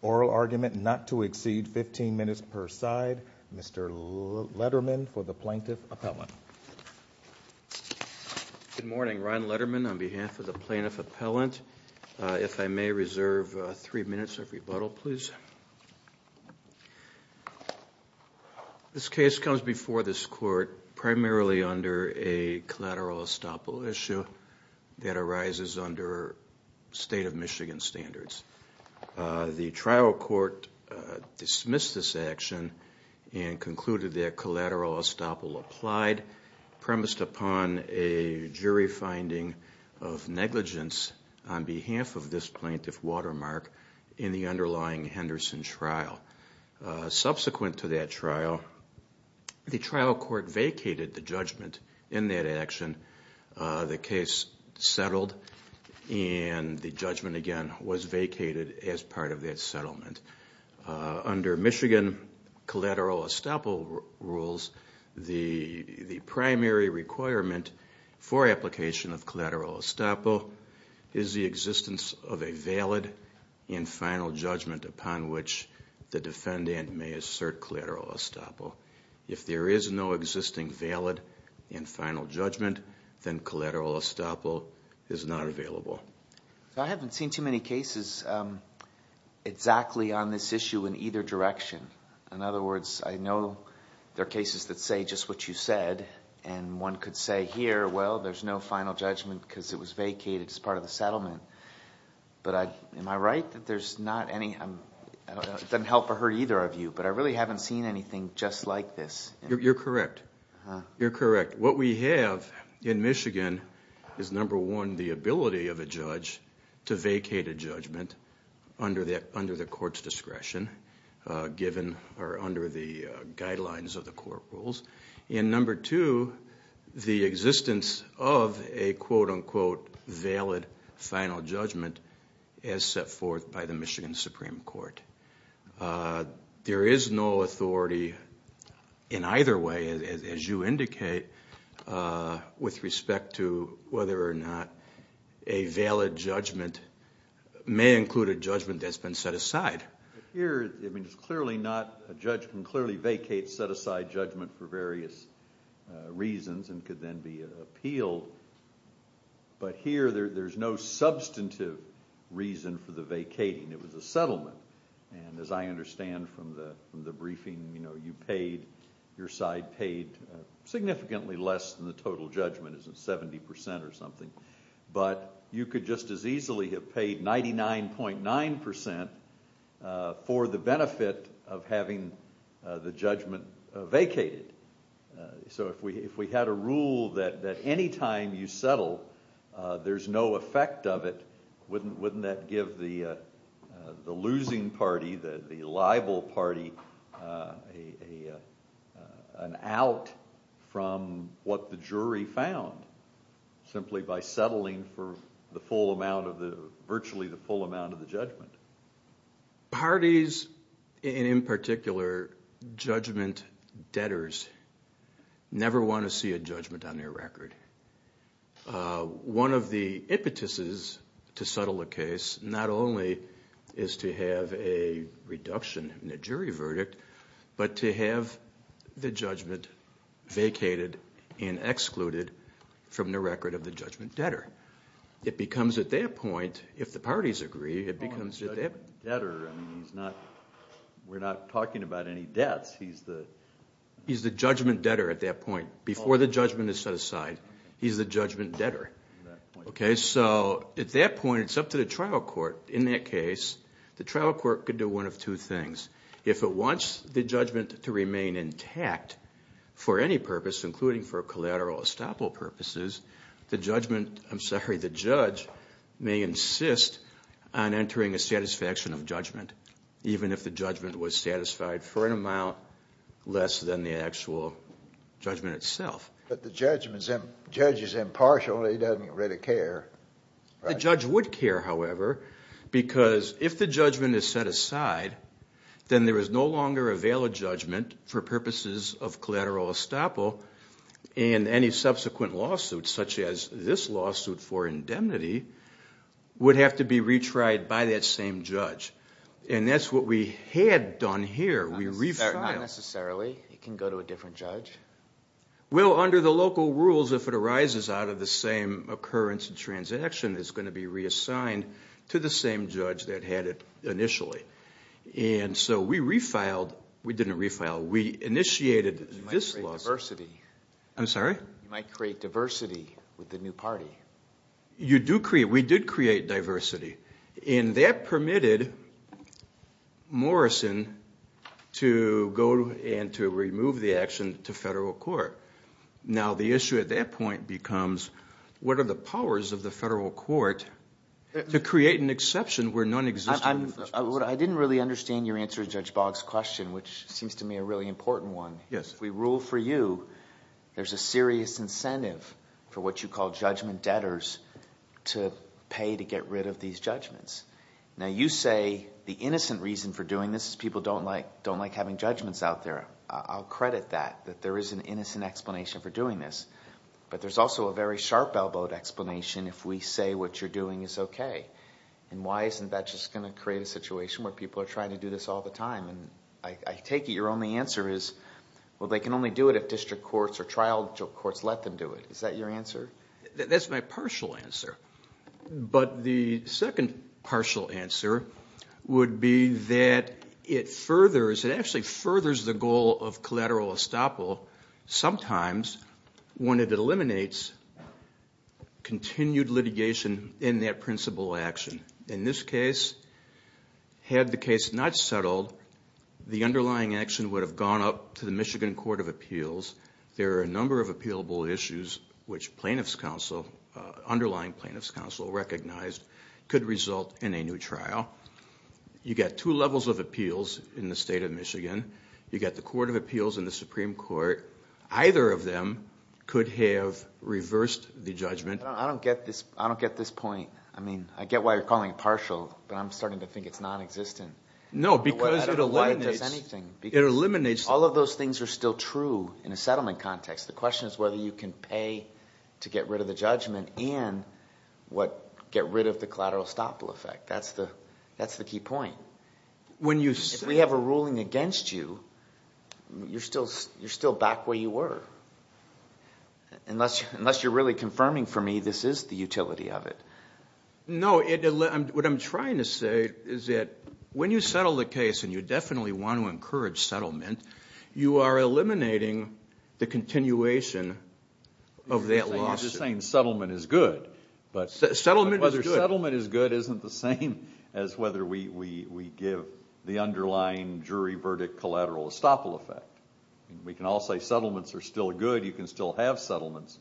Oral argument not to exceed 15 minutes per side. Mr. Letterman for the Plaintiff Appellant. Good morning. Ron Letterman on behalf of the Plaintiff Appellant. If I may reserve three rebuttal please. This case comes before this court primarily under a collateral estoppel issue that arises under state of Michigan standards. The trial court dismissed this action and concluded that collateral estoppel applied premised upon a jury finding of negligence on behalf of this plaintiff Watermark in the underlying Henderson trial. Subsequent to that trial, the trial court vacated the judgment in that action. The case settled and the judgment again was vacated as part of that settlement. Under Michigan collateral estoppel rules, the primary requirement for application of collateral estoppel is the existence of a valid and final judgment upon which the defendant may assert collateral estoppel. If there is no existing valid and final judgment, then collateral estoppel is not available. I haven't seen too many that say just what you said and one could say here, well, there's no final judgment because it was vacated as part of the settlement. Am I right? It doesn't help or hurt either of you, but I really haven't seen anything just like this. You're correct. You're correct. What we have in Michigan is number one, the ability of a judge to vacate a judgment under the court's estoppel rules, and number two, the existence of a quote unquote valid final judgment as set forth by the Michigan Supreme Court. There is no authority in either way, as you indicate, with respect to whether or not a valid judgment may include a judgment that's been set aside. Here, a judge can clearly vacate a set-aside judgment for various reasons and could then be appealed, but here there's no substantive reason for the vacating. It was a settlement. As I understand from the briefing, your side paid significantly less than the total judgment, 70% or something, but you could just as easily have paid 99.9% for the benefit of having the judgment vacated. So if we had a rule that any time you settle, there's no effect of it, wouldn't that give the losing party, the liable party, an out from what the jury found simply by settling for virtually the full amount of the judgment? Parties, and in particular, judgment debtors never want to see a judgment on their record. One of the impetuses to settle a case not only is to have a reduction in the jury verdict, but to have the judgment vacated and excluded from the record of the judgment debtor. It becomes at that point, if the parties agree, it becomes a judgment debtor. We're not talking about any debts. He's the judgment debtor at that point. Before the judgment is set aside, he's the judgment debtor. So at that point, it's up to the trial court. In that case, the trial court could do one of two things. If it wants the judgment to remain intact for any purpose, including for collateral estoppel purposes, the judgment, I'm sorry, the judge may insist on having a satisfaction of judgment, even if the judgment was satisfied for an amount less than the actual judgment itself. But the judge is impartial. He doesn't really care. The judge would care, however, because if the judgment is set aside, then there is no longer a valid judgment for purposes of collateral estoppel, and any subsequent lawsuit, such as this lawsuit for indemnity, would have to be retried by that same judge. And that's what we had done here. We re-filed. Not necessarily. It can go to a different judge. Well, under the local rules, if it arises out of the same occurrence and transaction, it's going to be reassigned to the same judge that had it initially. And so we re-filed. We didn't re-file. We initiated this lawsuit. You might create diversity. I'm sorry? You might create diversity with the new party. You do create, we did create diversity. And that permitted Morrison to go and to remove the action to federal court. Now the issue at that point becomes, what are the powers of the federal court to create an exception where none exists? I didn't really understand your answer to Judge Boggs' question, which seems to me a really important one. Yes. If we rule for you, there's a serious incentive for what you call judgment debtors to pay to get rid of these judgments. Now you say the innocent reason for doing this is people don't like having judgments out there. I'll credit that, that there is an innocent explanation for doing this. But there's also a very sharp-elbowed explanation if we say what you're doing is okay. And why isn't that just going to create a situation where people are trying to do this all the time? I take it your only answer is, well, they can only do it if district courts or trial courts let them do it. Is that your answer? That's my partial answer. But the second partial answer would be that it furthers, it actually furthers the goal of collateral estoppel sometimes when it eliminates continued litigation in that principal action. In this case, had the case not settled, the underlying action would have gone up to the Michigan Court of Appeals. There are a number of appealable issues which plaintiff's counsel, underlying plaintiff's counsel recognized could result in a new trial. You get two levels of appeals in the state of Michigan. You get the Court of Appeals and the Supreme Court. Either of them could have reversed the judgment. I don't get this. I don't get this point. I mean, I get why you're calling it partial, but I'm starting to think it's non-existent. No, because it eliminates- Why does anything? It eliminates- All of those things are still true in a settlement context. The question is whether you can pay to get rid of the judgment and get rid of the collateral estoppel effect. That's the key point. When you say- If we have a ruling against you, you're still back where you were. Unless you're really confirming for me this is the utility of it. No, what I'm trying to say is that when you settle the case and you definitely want to encourage settlement, you are eliminating the continuation of that lawsuit. You're just saying settlement is good. Settlement is good. Whether settlement is good isn't the same as whether we give the underlying jury verdict collateral estoppel effect. We can all say settlements are still good. You can still have settlements.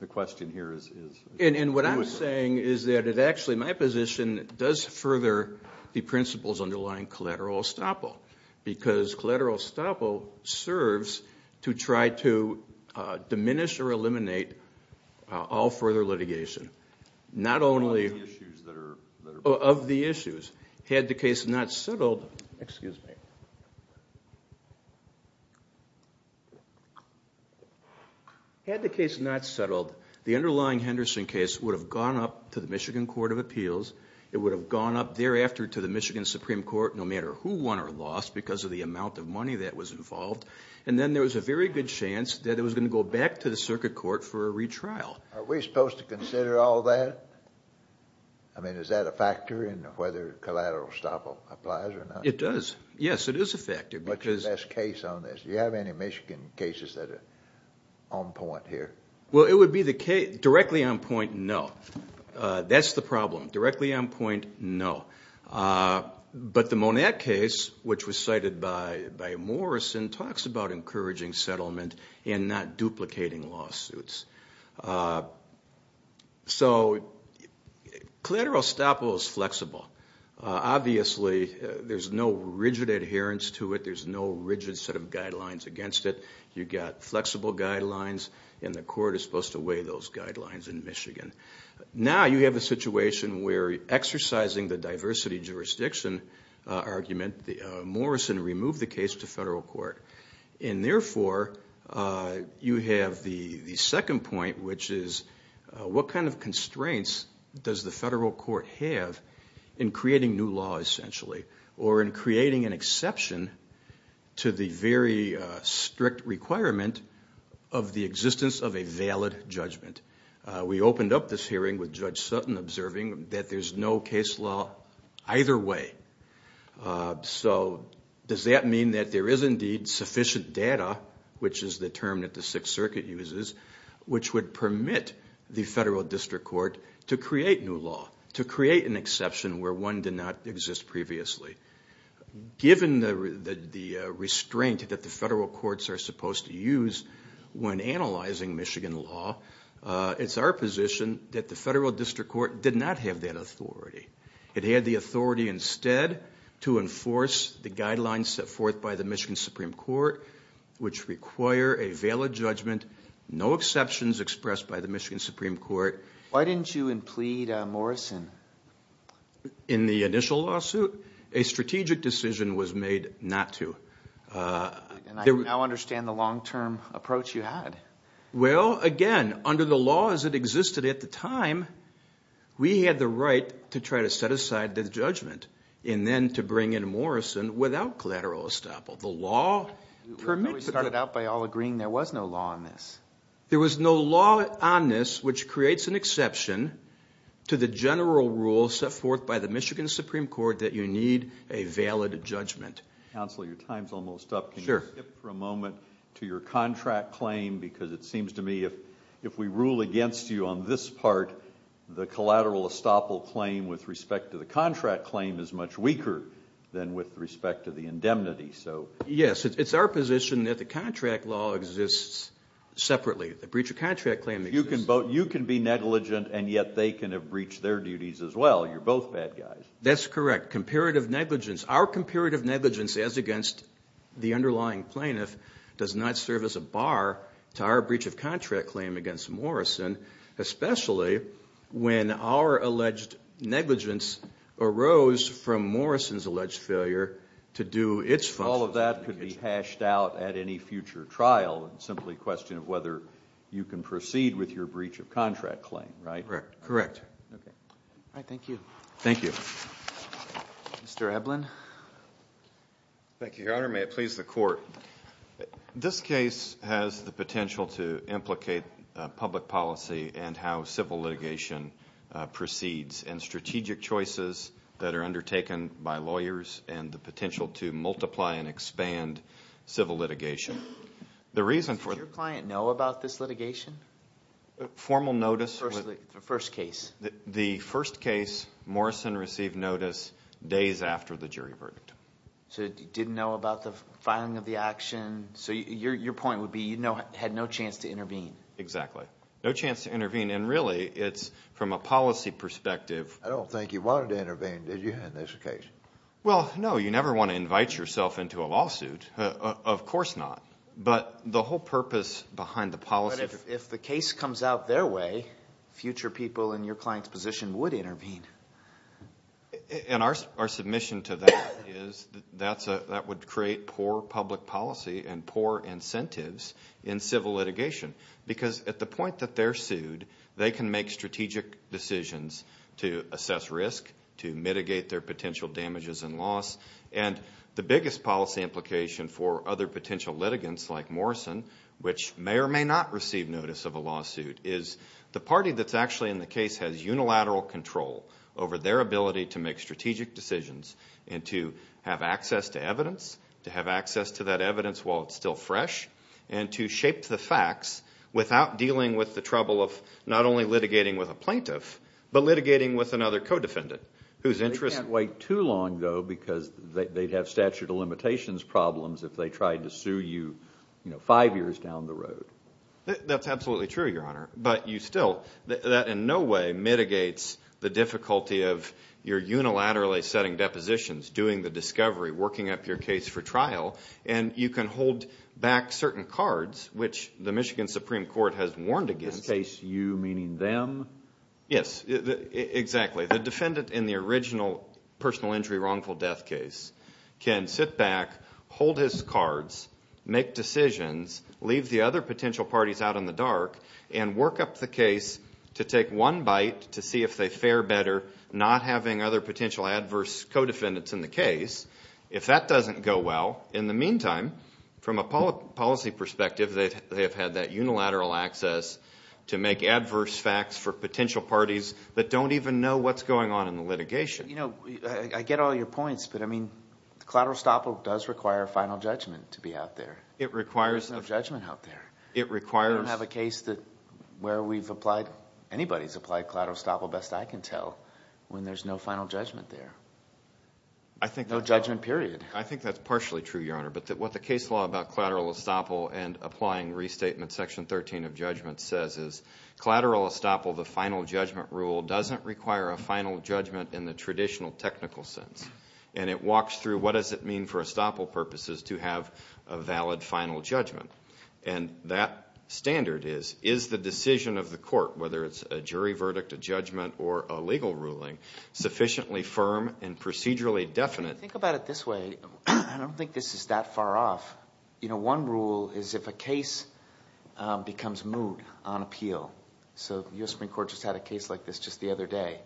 The question here is- And what I'm saying is that it actually, my position does further the principles underlying collateral estoppel. Because collateral estoppel serves to try to diminish or eliminate all further litigation. Not only- Of the issues that are- Of the issues. Had the case not settled- Had the case not settled, the underlying Henderson case would have gone up to the Michigan Court of Appeals. It would have gone up thereafter to the Michigan Supreme Court, no matter who won or lost, because of the amount of money that was involved. And then there was a very good chance that it was going to go back to the circuit court for a retrial. Are we supposed to consider all that? I mean, is that a factor in whether collateral estoppel applies or not? It does. Yes, it is a factor because- What's your best case on this? Do you have any Michigan cases that are on point here? Well, it would be the case- Directly on point, no. That's the problem. Directly on point, no. But the Monette case, which was cited by Morrison, talks about encouraging settlement and not duplicating lawsuits. So collateral estoppel is flexible. Obviously, there's no rigid adherence to it. You've got flexible guidelines, and the court is supposed to weigh those guidelines in Michigan. Now you have a situation where, exercising the diversity jurisdiction argument, Morrison removed the case to federal court. And therefore, you have the second point, which is, what kind of constraints does the federal court have in creating new law, essentially, or in creating an exception to the very strict requirement of the existence of a valid judgment? We opened up this hearing with Judge Sutton observing that there's no case law either way. So does that mean that there is indeed sufficient data, which is the term that the Sixth Circuit uses, which would permit the federal district court to create new law, to create an exception where one did not exist previously? Given the restraint that the federal courts are supposed to use when analyzing Michigan law, it's our position that the federal district court did not have that authority. It had the authority instead to enforce the guidelines set forth by the Michigan Supreme Court, which require a valid judgment, no exceptions expressed by the Michigan Supreme Court. Why didn't you implead Morrison? In the initial lawsuit, a strategic decision was made not to. And I now understand the long-term approach you had. Well, again, under the laws that existed at the time, we had the right to try to set aside the judgment, and then to bring in Morrison without collateral estoppel. The law permitted that. We started out by all agreeing there was no law on this. There was no law on this, which creates an exception to the general rule set forth by the Michigan Supreme Court that you need a valid judgment. Counsel, your time's almost up. Can you skip for a moment to your contract claim? Because it seems to me if we rule against you on this part, the collateral estoppel claim with respect to the contract claim is much weaker than with respect to the indemnity. Yes, it's our position that the contract law exists separately. The breach of contract claim exists. You can be negligent, and yet they can have breached their duties as well. You're both bad guys. That's correct. Comparative negligence. Our comparative negligence as against the underlying plaintiff does not serve as a bar to our breach of contract claim against Morrison, especially when our alleged negligence arose from Morrison's alleged failure to do its function. All of that could be hashed out at any future trial and simply a question of whether you can proceed with your breach of contract claim, right? Correct. Correct. All right. Thank you. Thank you. Mr. Eblen. Thank you, Your Honor. May it please the Court. This case has the potential to implicate public policy and how civil litigation proceeds and strategic choices that are undertaken by lawyers and the potential to multiply and expand civil litigation. The reason for... Does your client know about this litigation? Formal notice... The first case. The first case, Morrison received notice days after the jury verdict. So he didn't know about the filing of the action. So your point would be you had no chance to intervene. Exactly. No chance to intervene. And really, it's from a policy perspective... I don't think you wanted to intervene, did you, in this case? Well, no. You never want to invite yourself into a lawsuit. Of course not. But the whole purpose behind the policy... If the case comes out their way, future people in your client's position would intervene. And our submission to that is that would create poor public policy and poor incentives in civil litigation. Because at the point that they're sued, they can make strategic decisions to assess risk, to mitigate their potential damages and loss. And the biggest policy implication for other potential litigants like Morrison, which may or may not receive notice of a lawsuit, is the party that's actually in the case has unilateral control. Over their ability to make strategic decisions and to have access to evidence. To have access to that evidence while it's still fresh. And to shape the facts without dealing with the trouble of not only litigating with a plaintiff, but litigating with another co-defendant. They can't wait too long, though, because they'd have statute of limitations problems if they tried to sue you, you know, five years down the road. That's absolutely true, your honor. But you still... That in no way mitigates the difficulty of your unilaterally setting depositions, doing the discovery, working up your case for trial. And you can hold back certain cards, which the Michigan Supreme Court has warned against. In this case, you meaning them? Yes, exactly. The defendant in the original personal injury wrongful death case can sit back, hold his cards, make decisions, leave the other potential parties out in the dark. And work up the case to take one bite to see if they fare better not having other potential adverse co-defendants in the case. If that doesn't go well, in the meantime, from a policy perspective, they have had that unilateral access to make adverse facts for potential parties that don't even know what's going on in the litigation. You know, I get all your points, but I mean, collateral estoppel does require final judgment to be out there. It requires... There's no judgment out there. It requires... Where we've applied... Anybody's applied collateral estoppel, best I can tell, when there's no final judgment there. I think... No judgment, period. I think that's partially true, Your Honor. But what the case law about collateral estoppel and applying restatement section 13 of judgment says is collateral estoppel, the final judgment rule, doesn't require a final judgment in the traditional technical sense. And it walks through what does it mean for estoppel purposes to have a valid final judgment. And that standard is, is the decision of the court, whether it's a jury verdict, a judgment, or a legal ruling, sufficiently firm and procedurally definite? If you think about it this way, I don't think this is that far off. You know, one rule is if a case becomes moot on appeal. So the U.S. Supreme Court just had a case like this just the other day.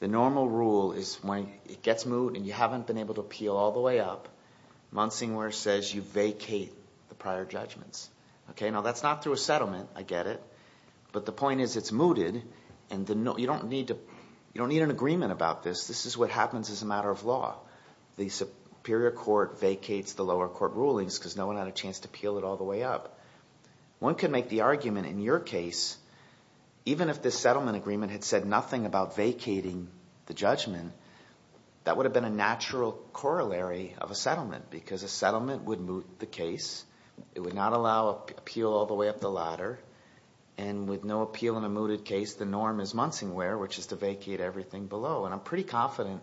The normal rule is when it gets moot and you haven't been able to appeal all the way up. Monsingor says you vacate the prior judgments. Okay. Now, that's not through a settlement. I get it. But the point is, it's mooted. And you don't need to... You don't need an agreement about this. This is what happens as a matter of law. The Superior Court vacates the lower court rulings because no one had a chance to appeal it all the way up. One could make the argument in your case. Even if this settlement agreement had said nothing about vacating the judgment, that would have been a natural corollary of a settlement because a settlement would moot the case. It would not allow appeal all the way up the ladder. And with no appeal in a mooted case, the norm is Monsingware, which is to vacate everything below. And I'm pretty confident,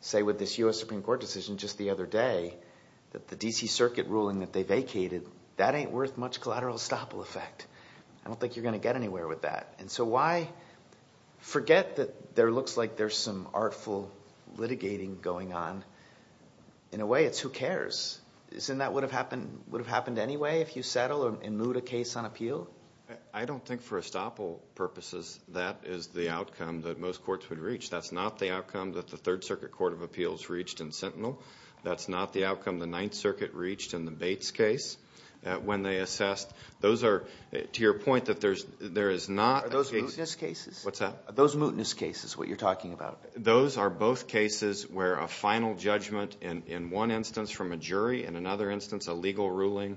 say with this U.S. Supreme Court decision just the other day, that the D.C. Circuit ruling that they vacated, that ain't worth much collateral estoppel effect. I don't think you're going to get anywhere with that. And so why forget that there looks like there's some artful litigating going on? In a way, it's who cares? Isn't that what would have happened anyway if you settle and moot a case on appeal? I don't think for estoppel purposes, that is the outcome that most courts would reach. That's not the outcome that the Third Circuit Court of Appeals reached in Sentinel. That's not the outcome the Ninth Circuit reached in the Bates case when they assessed... Those are, to your point, that there is not... Are those mootness cases? What's that? Are those mootness cases, what you're talking about? Those are both cases where a final judgment in one instance from a jury, in another instance, a legal ruling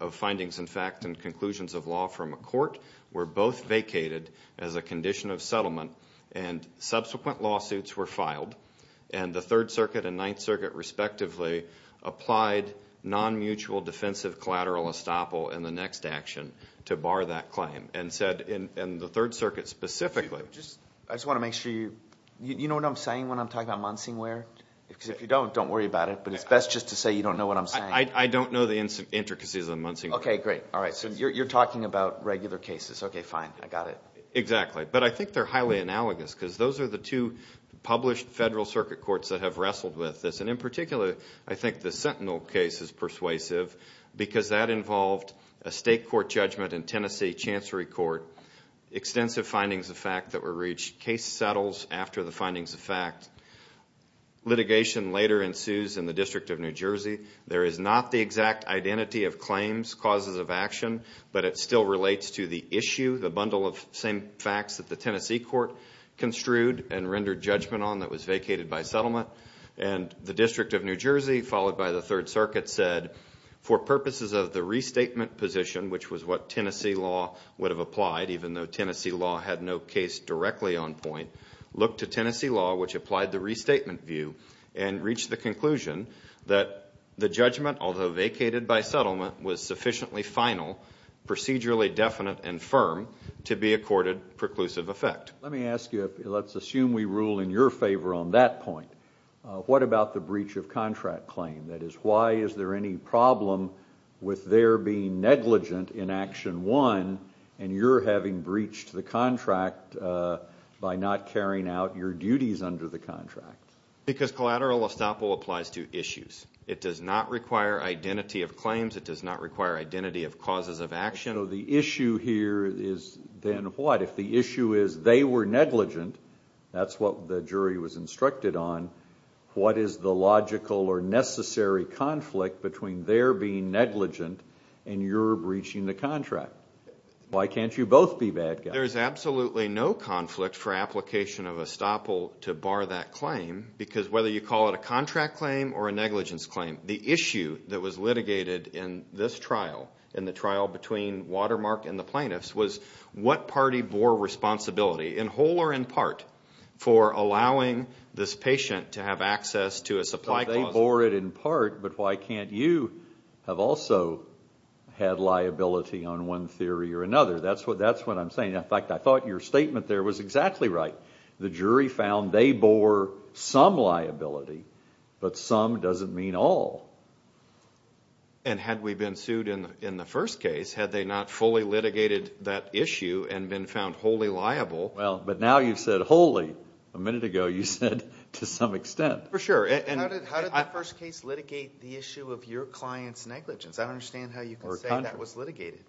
of findings, in fact, and conclusions of law from a court were both vacated as a condition of settlement. And subsequent lawsuits were filed. And the Third Circuit and Ninth Circuit, respectively, applied non-mutual defensive collateral estoppel in the next action to bar that claim. And said in the Third Circuit specifically... I just want to make sure you... You know what I'm saying when I'm talking about Munsingware? Because if you don't, don't worry about it. But it's best just to say you don't know what I'm saying. I don't know the intricacies of Munsingware. Okay, great. All right. So you're talking about regular cases. Okay, fine. I got it. Exactly. But I think they're highly analogous because those are the two published federal circuit courts that have wrestled with this. In particular, I think the Sentinel case is persuasive because that involved a state court judgment in Tennessee Chancery Court. Extensive findings of fact that were reached. Case settles after the findings of fact. Litigation later ensues in the District of New Jersey. There is not the exact identity of claims, causes of action, but it still relates to the issue, the bundle of same facts that the Tennessee court construed and rendered judgment on that was vacated by settlement. And the District of New Jersey, followed by the Third Circuit said, for purposes of the restatement position, which was what Tennessee law would have applied, even though Tennessee law had no case directly on point, looked to Tennessee law, which applied the restatement view, and reached the conclusion that the judgment, although vacated by settlement, was sufficiently final, procedurally definite, and firm to be accorded preclusive effect. Let me ask you, let's assume we rule in your favor on that point. What about the breach of contract claim? That is, why is there any problem with there being negligent in action one, and you're having breached the contract by not carrying out your duties under the contract? Because collateral estoppel applies to issues. It does not require identity of claims. It does not require identity of causes of action. So the issue here is then what? If the issue is they were negligent, that's what the jury was instructed on, what is the logical or necessary conflict between their being negligent and your breaching the contract? Why can't you both be bad guys? There is absolutely no conflict for application of estoppel to bar that claim, because whether you call it a contract claim or a negligence claim, the issue that was litigated in this trial, in the trial between Watermark and the plaintiffs, was what party bore responsibility, in whole or in part, for allowing this patient to have access to a supply clause? They bore it in part, but why can't you have also had liability on one theory or another? That's what I'm saying. In fact, I thought your statement there was exactly right. The jury found they bore some liability, but some doesn't mean all. And had we been sued in the first case, had they not fully litigated that issue and been found wholly liable? Well, but now you've said wholly. A minute ago, you said to some extent. For sure. And how did the first case litigate the issue of your client's negligence? I don't understand how you can say that was litigated.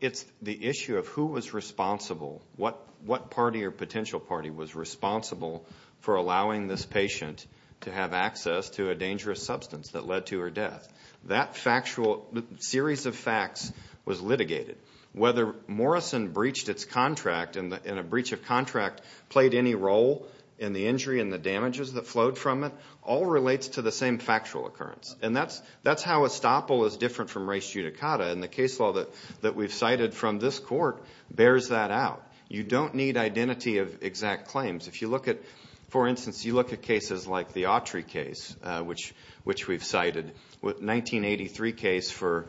It's the issue of who was responsible, what party or potential party was responsible for allowing this patient to have access to a dangerous substance that led to her death. That factual series of facts was litigated. Whether Morrison breached its contract and a breach of contract played any role in the injury and the damages that flowed from it all relates to the same factual occurrence. And that's how estoppel is different from res judicata. And the case law that we've cited from this court bears that out. You don't need identity of exact claims. If you look at, for instance, you look at cases like the Autry case, which we've cited, 1983 case for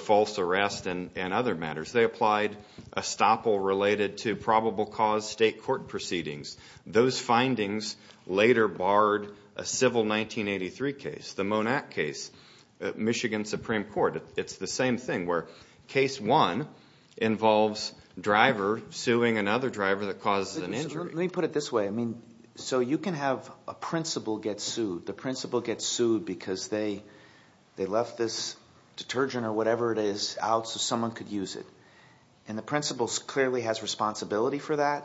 false arrest and other matters. They applied estoppel related to probable cause state court proceedings. Those findings later barred a civil 1983 case, the Monac case, Michigan Supreme Court. It's the same thing where case one involves driver suing another driver that causes an injury. Let me put it this way. So you can have a principal get sued. The principal gets sued because they left this detergent or whatever it is out so someone could use it. And the principal clearly has responsibility for that.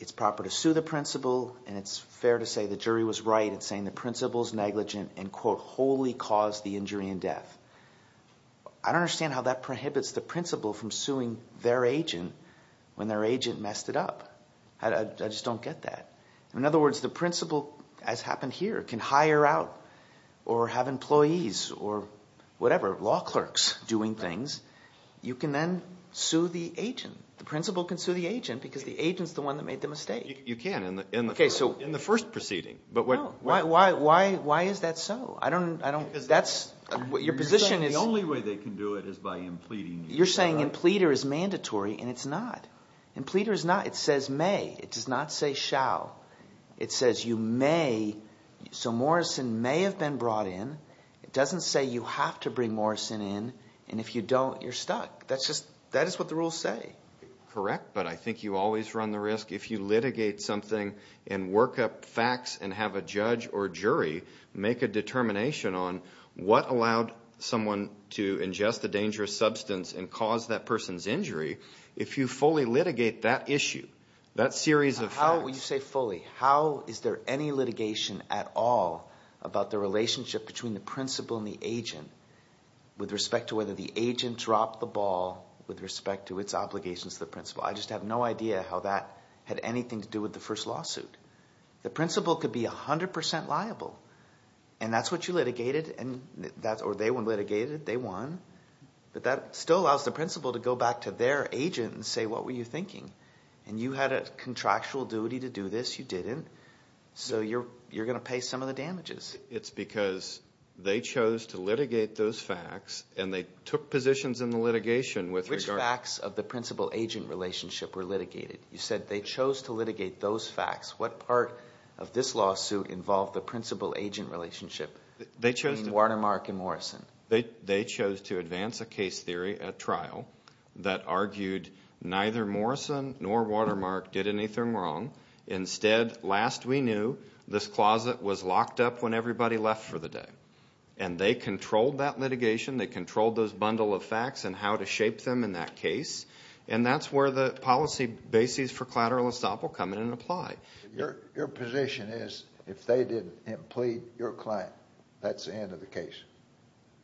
It's proper to sue the principal. And it's fair to say the jury was right in saying the principal's negligent and wholly caused the injury and death. I don't understand how that prohibits the principal from suing their agent when their agent messed it up. I just don't get that. In other words, the principal, as happened here, can hire out or have employees or whatever, law clerks doing things. You can then sue the agent. The principal can sue the agent because the agent's the one that made the mistake. You can in the first proceeding. But why is that so? I don't, I don't, that's what your position is. The only way they can do it is by impleeding. You're saying impleeder is mandatory and it's not. Impleeder is not. It says may. It does not say shall. It says you may. So Morrison may have been brought in. It doesn't say you have to bring Morrison in. And if you don't, you're stuck. That's just, that is what the rules say. Correct. But I think you always run the risk. If you litigate something and work up facts and have a judge or jury make a determination on what allowed someone to ingest a dangerous substance and cause that person's injury. If you fully litigate that issue, that series of facts. How, when you say fully, how is there any litigation at all about the relationship between the principal and the agent with respect to whether the agent dropped the ball with respect to its obligations to the principal? I just have no idea how that had anything to do with the first lawsuit. The principal could be 100% liable. And that's what you litigated. And that's, or they were litigated. They won. But that still allows the principal to go back to their agent and say, what were you thinking? And you had a contractual duty to do this. You didn't. So you're, you're going to pay some of the damages. It's because they chose to litigate those facts and they took positions in the litigation. Which facts of the principal agent relationship were litigated? You said they chose to litigate those facts. What part of this lawsuit involved the principal agent relationship? They chose to. Between Watermark and Morrison. They chose to advance a case theory at trial that argued neither Morrison nor Watermark did anything wrong. Instead, last we knew, this closet was locked up when everybody left for the day. And they controlled that litigation. They controlled those bundle of facts and how to shape them in that case. And that's where the policy bases for collateral estoppel come in and apply. Your position is if they didn't plead your claim, that's the end of the case?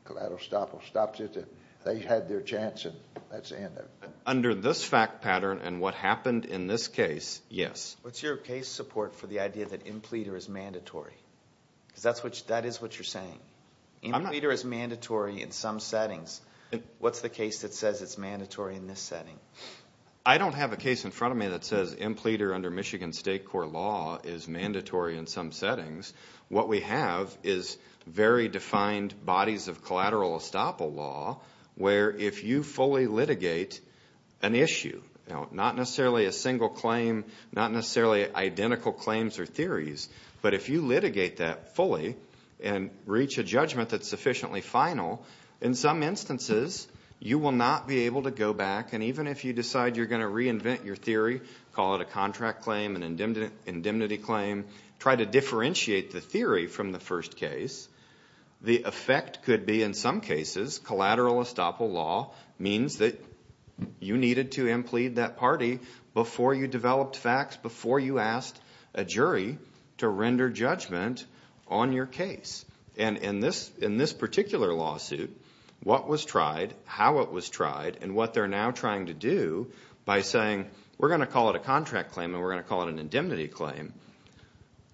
Collateral estoppel stops it. They had their chance and that's the end of it. Under this fact pattern and what happened in this case, yes. What's your case support for the idea that impleader is mandatory? Because that's what, that is what you're saying. Impleader is mandatory in some settings. What's the case that says it's mandatory in this setting? I don't have a case in front of me that says impleader under Michigan state court law is mandatory in some settings. What we have is very defined bodies of collateral estoppel law where if you fully litigate an issue, not necessarily a single claim, not necessarily identical claims or theories, but if you litigate that fully and reach a judgment that's sufficiently final, in some instances, you will not be able to go back. And even if you decide you're going to reinvent your theory, call it a contract claim, an indemnity claim, try to differentiate the theory from the first case, the effect could be in some cases, collateral estoppel law means that you needed to implead that party before you developed facts, before you asked a jury to render judgment on your case. And in this particular lawsuit, what was tried, how it was tried, and what they're now trying to do by saying, we're going to call it a contract claim and we're going to call it an indemnity claim,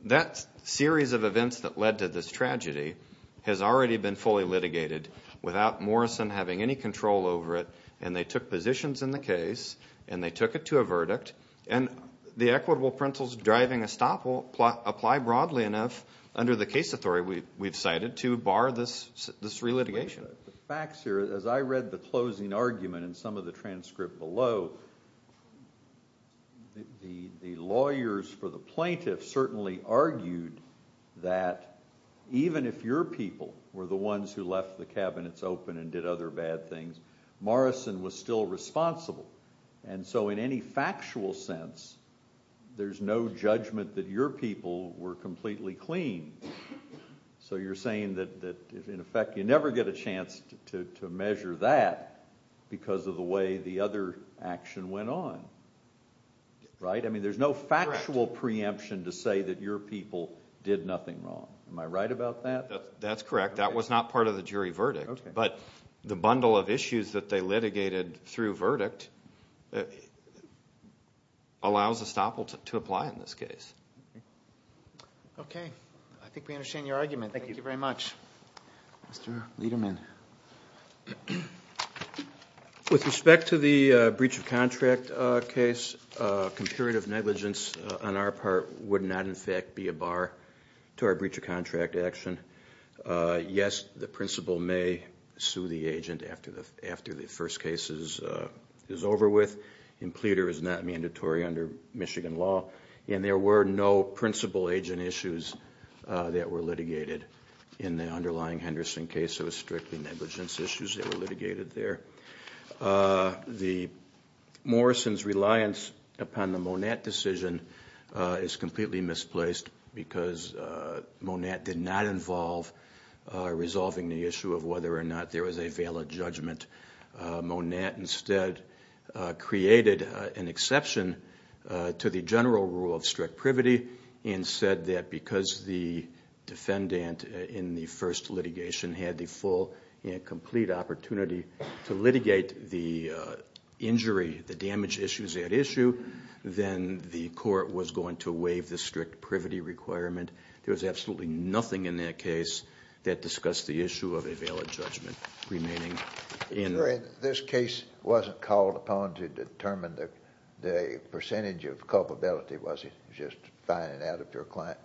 that series of events that led to this tragedy has already been fully litigated without Morrison having any control over it, and they took positions in the case, and they took it to a verdict, and the equitable principles of driving estoppel apply broadly enough under the case authority we've cited to bar this relitigation. The facts here, as I read the closing argument in some of the transcript below, the lawyers for the plaintiffs certainly argued that even if your people were the ones who left the cabinets open and did other bad things, Morrison was still responsible. And so in any factual sense, there's no judgment that your people were completely clean. So you're saying that in effect, you never get a chance to measure that because of the way the other action went on, right? I mean, there's no factual preemption to say that your people did nothing wrong. Am I right about that? That's correct. That was not part of the jury verdict, but the bundle of issues that they litigated through verdict allows estoppel to apply in this case. Okay. I think we understand your argument. Thank you very much. Mr. Lederman. With respect to the breach of contract case, comparative negligence on our part would not in fact be a bar to our breach of contract action. Yes, the principal may sue the agent after the first case is over with, and pleader is not mandatory under Michigan law. And there were no principal agent issues that were litigated in the underlying Henderson case. It was strictly negligence issues that were litigated there. The Morrison's reliance upon the Monat decision is completely misplaced because Monat did not involve resolving the issue of whether or not there was a valid judgment. Monat instead created an exception to the general rule of strict privity and said that because the defendant in the first litigation had the full and complete opportunity to litigate the injury, the damage issues at issue, then the court was going to waive the strict privity requirement. There was absolutely nothing in that case that discussed the issue of a valid judgment remaining. This case wasn't called upon to determine that percentage of culpability, was it? Just finding out if your client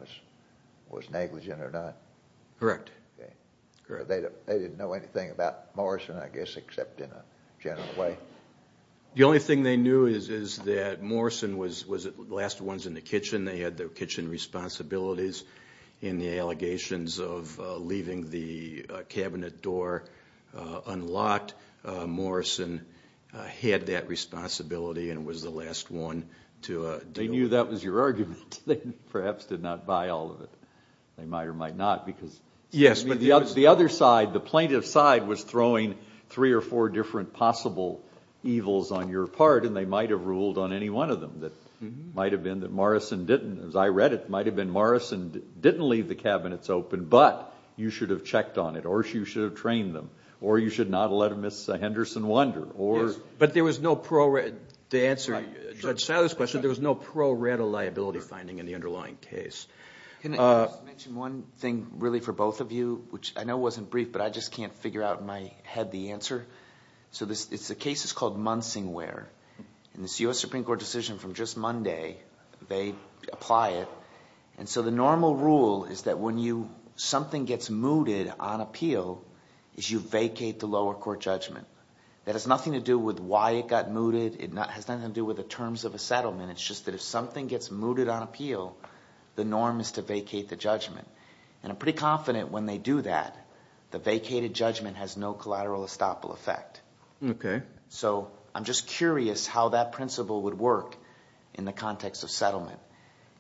was negligent or not? Correct. They didn't know anything about Morrison, I guess, except in a general way? The only thing they knew is that Morrison was the last ones in the kitchen. They had their kitchen responsibilities. In the allegations of leaving the cabinet door unlocked, Morrison had that responsibility and was the last one to do it. They knew that was your argument. They perhaps did not buy all of it. They might or might not because... Yes, but the plaintiff's side was throwing three or four different possible evils on your part and they might have ruled on any one of them. As I read it, it might have been Morrison didn't leave the cabinets open, but you should have checked on it or you should have trained them or you should not have let Ms. Henderson wander. But there was no pro-rata liability finding in the underlying case. Can I just mention one thing really for both of you, which I know wasn't brief, but I just can't figure out in my head the answer. It's a case that's called Munsingware. In this U.S. Supreme Court decision from just Monday, they apply it. The normal rule is that when something gets mooted on appeal, is you vacate the lower court judgment. That has nothing to do with why it got mooted. It has nothing to do with the terms of a settlement. It's just that if something gets mooted on appeal, the norm is to vacate the judgment. And I'm pretty confident when they do that, the vacated judgment has no collateral estoppel effect. So I'm just curious how that principle would work in the context of settlement.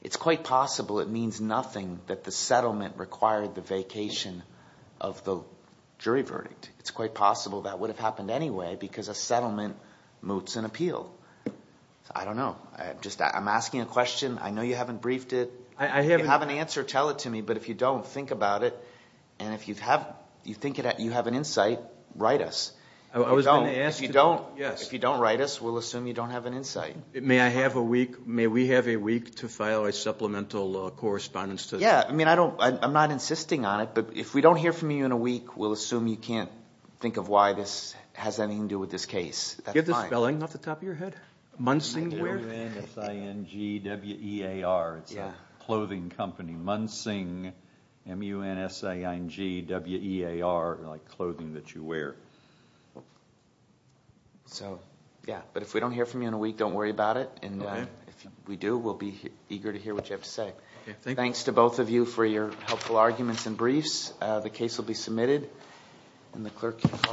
It's quite possible it means nothing that the settlement required the vacation of the jury verdict. It's quite possible that would have happened anyway because a settlement moots an appeal. I don't know. I'm asking a question. I know you haven't briefed it. If you have an answer, tell it to me. But if you don't, think about it. And if you have an insight, write us. If you don't write us, we'll assume you don't have an insight. May I have a week? May we have a week to file a supplemental correspondence? Yeah, I mean, I'm not insisting on it. But if we don't hear from you in a week, we'll assume you can't think of why this has anything to do with this case. Do you have the spelling off the top of your head? Munsingwear? M-U-N-S-I-N-G-W-E-A-R. It's a clothing company. Munsing, M-U-N-S-I-N-G-W-E-A-R, like clothing that you wear. So, yeah. But if we don't hear from you in a week, don't worry about it. And if we do, we'll be eager to hear what you have to say. Thanks to both of you for your helpful arguments and briefs. The case will be submitted, and the clerk can call.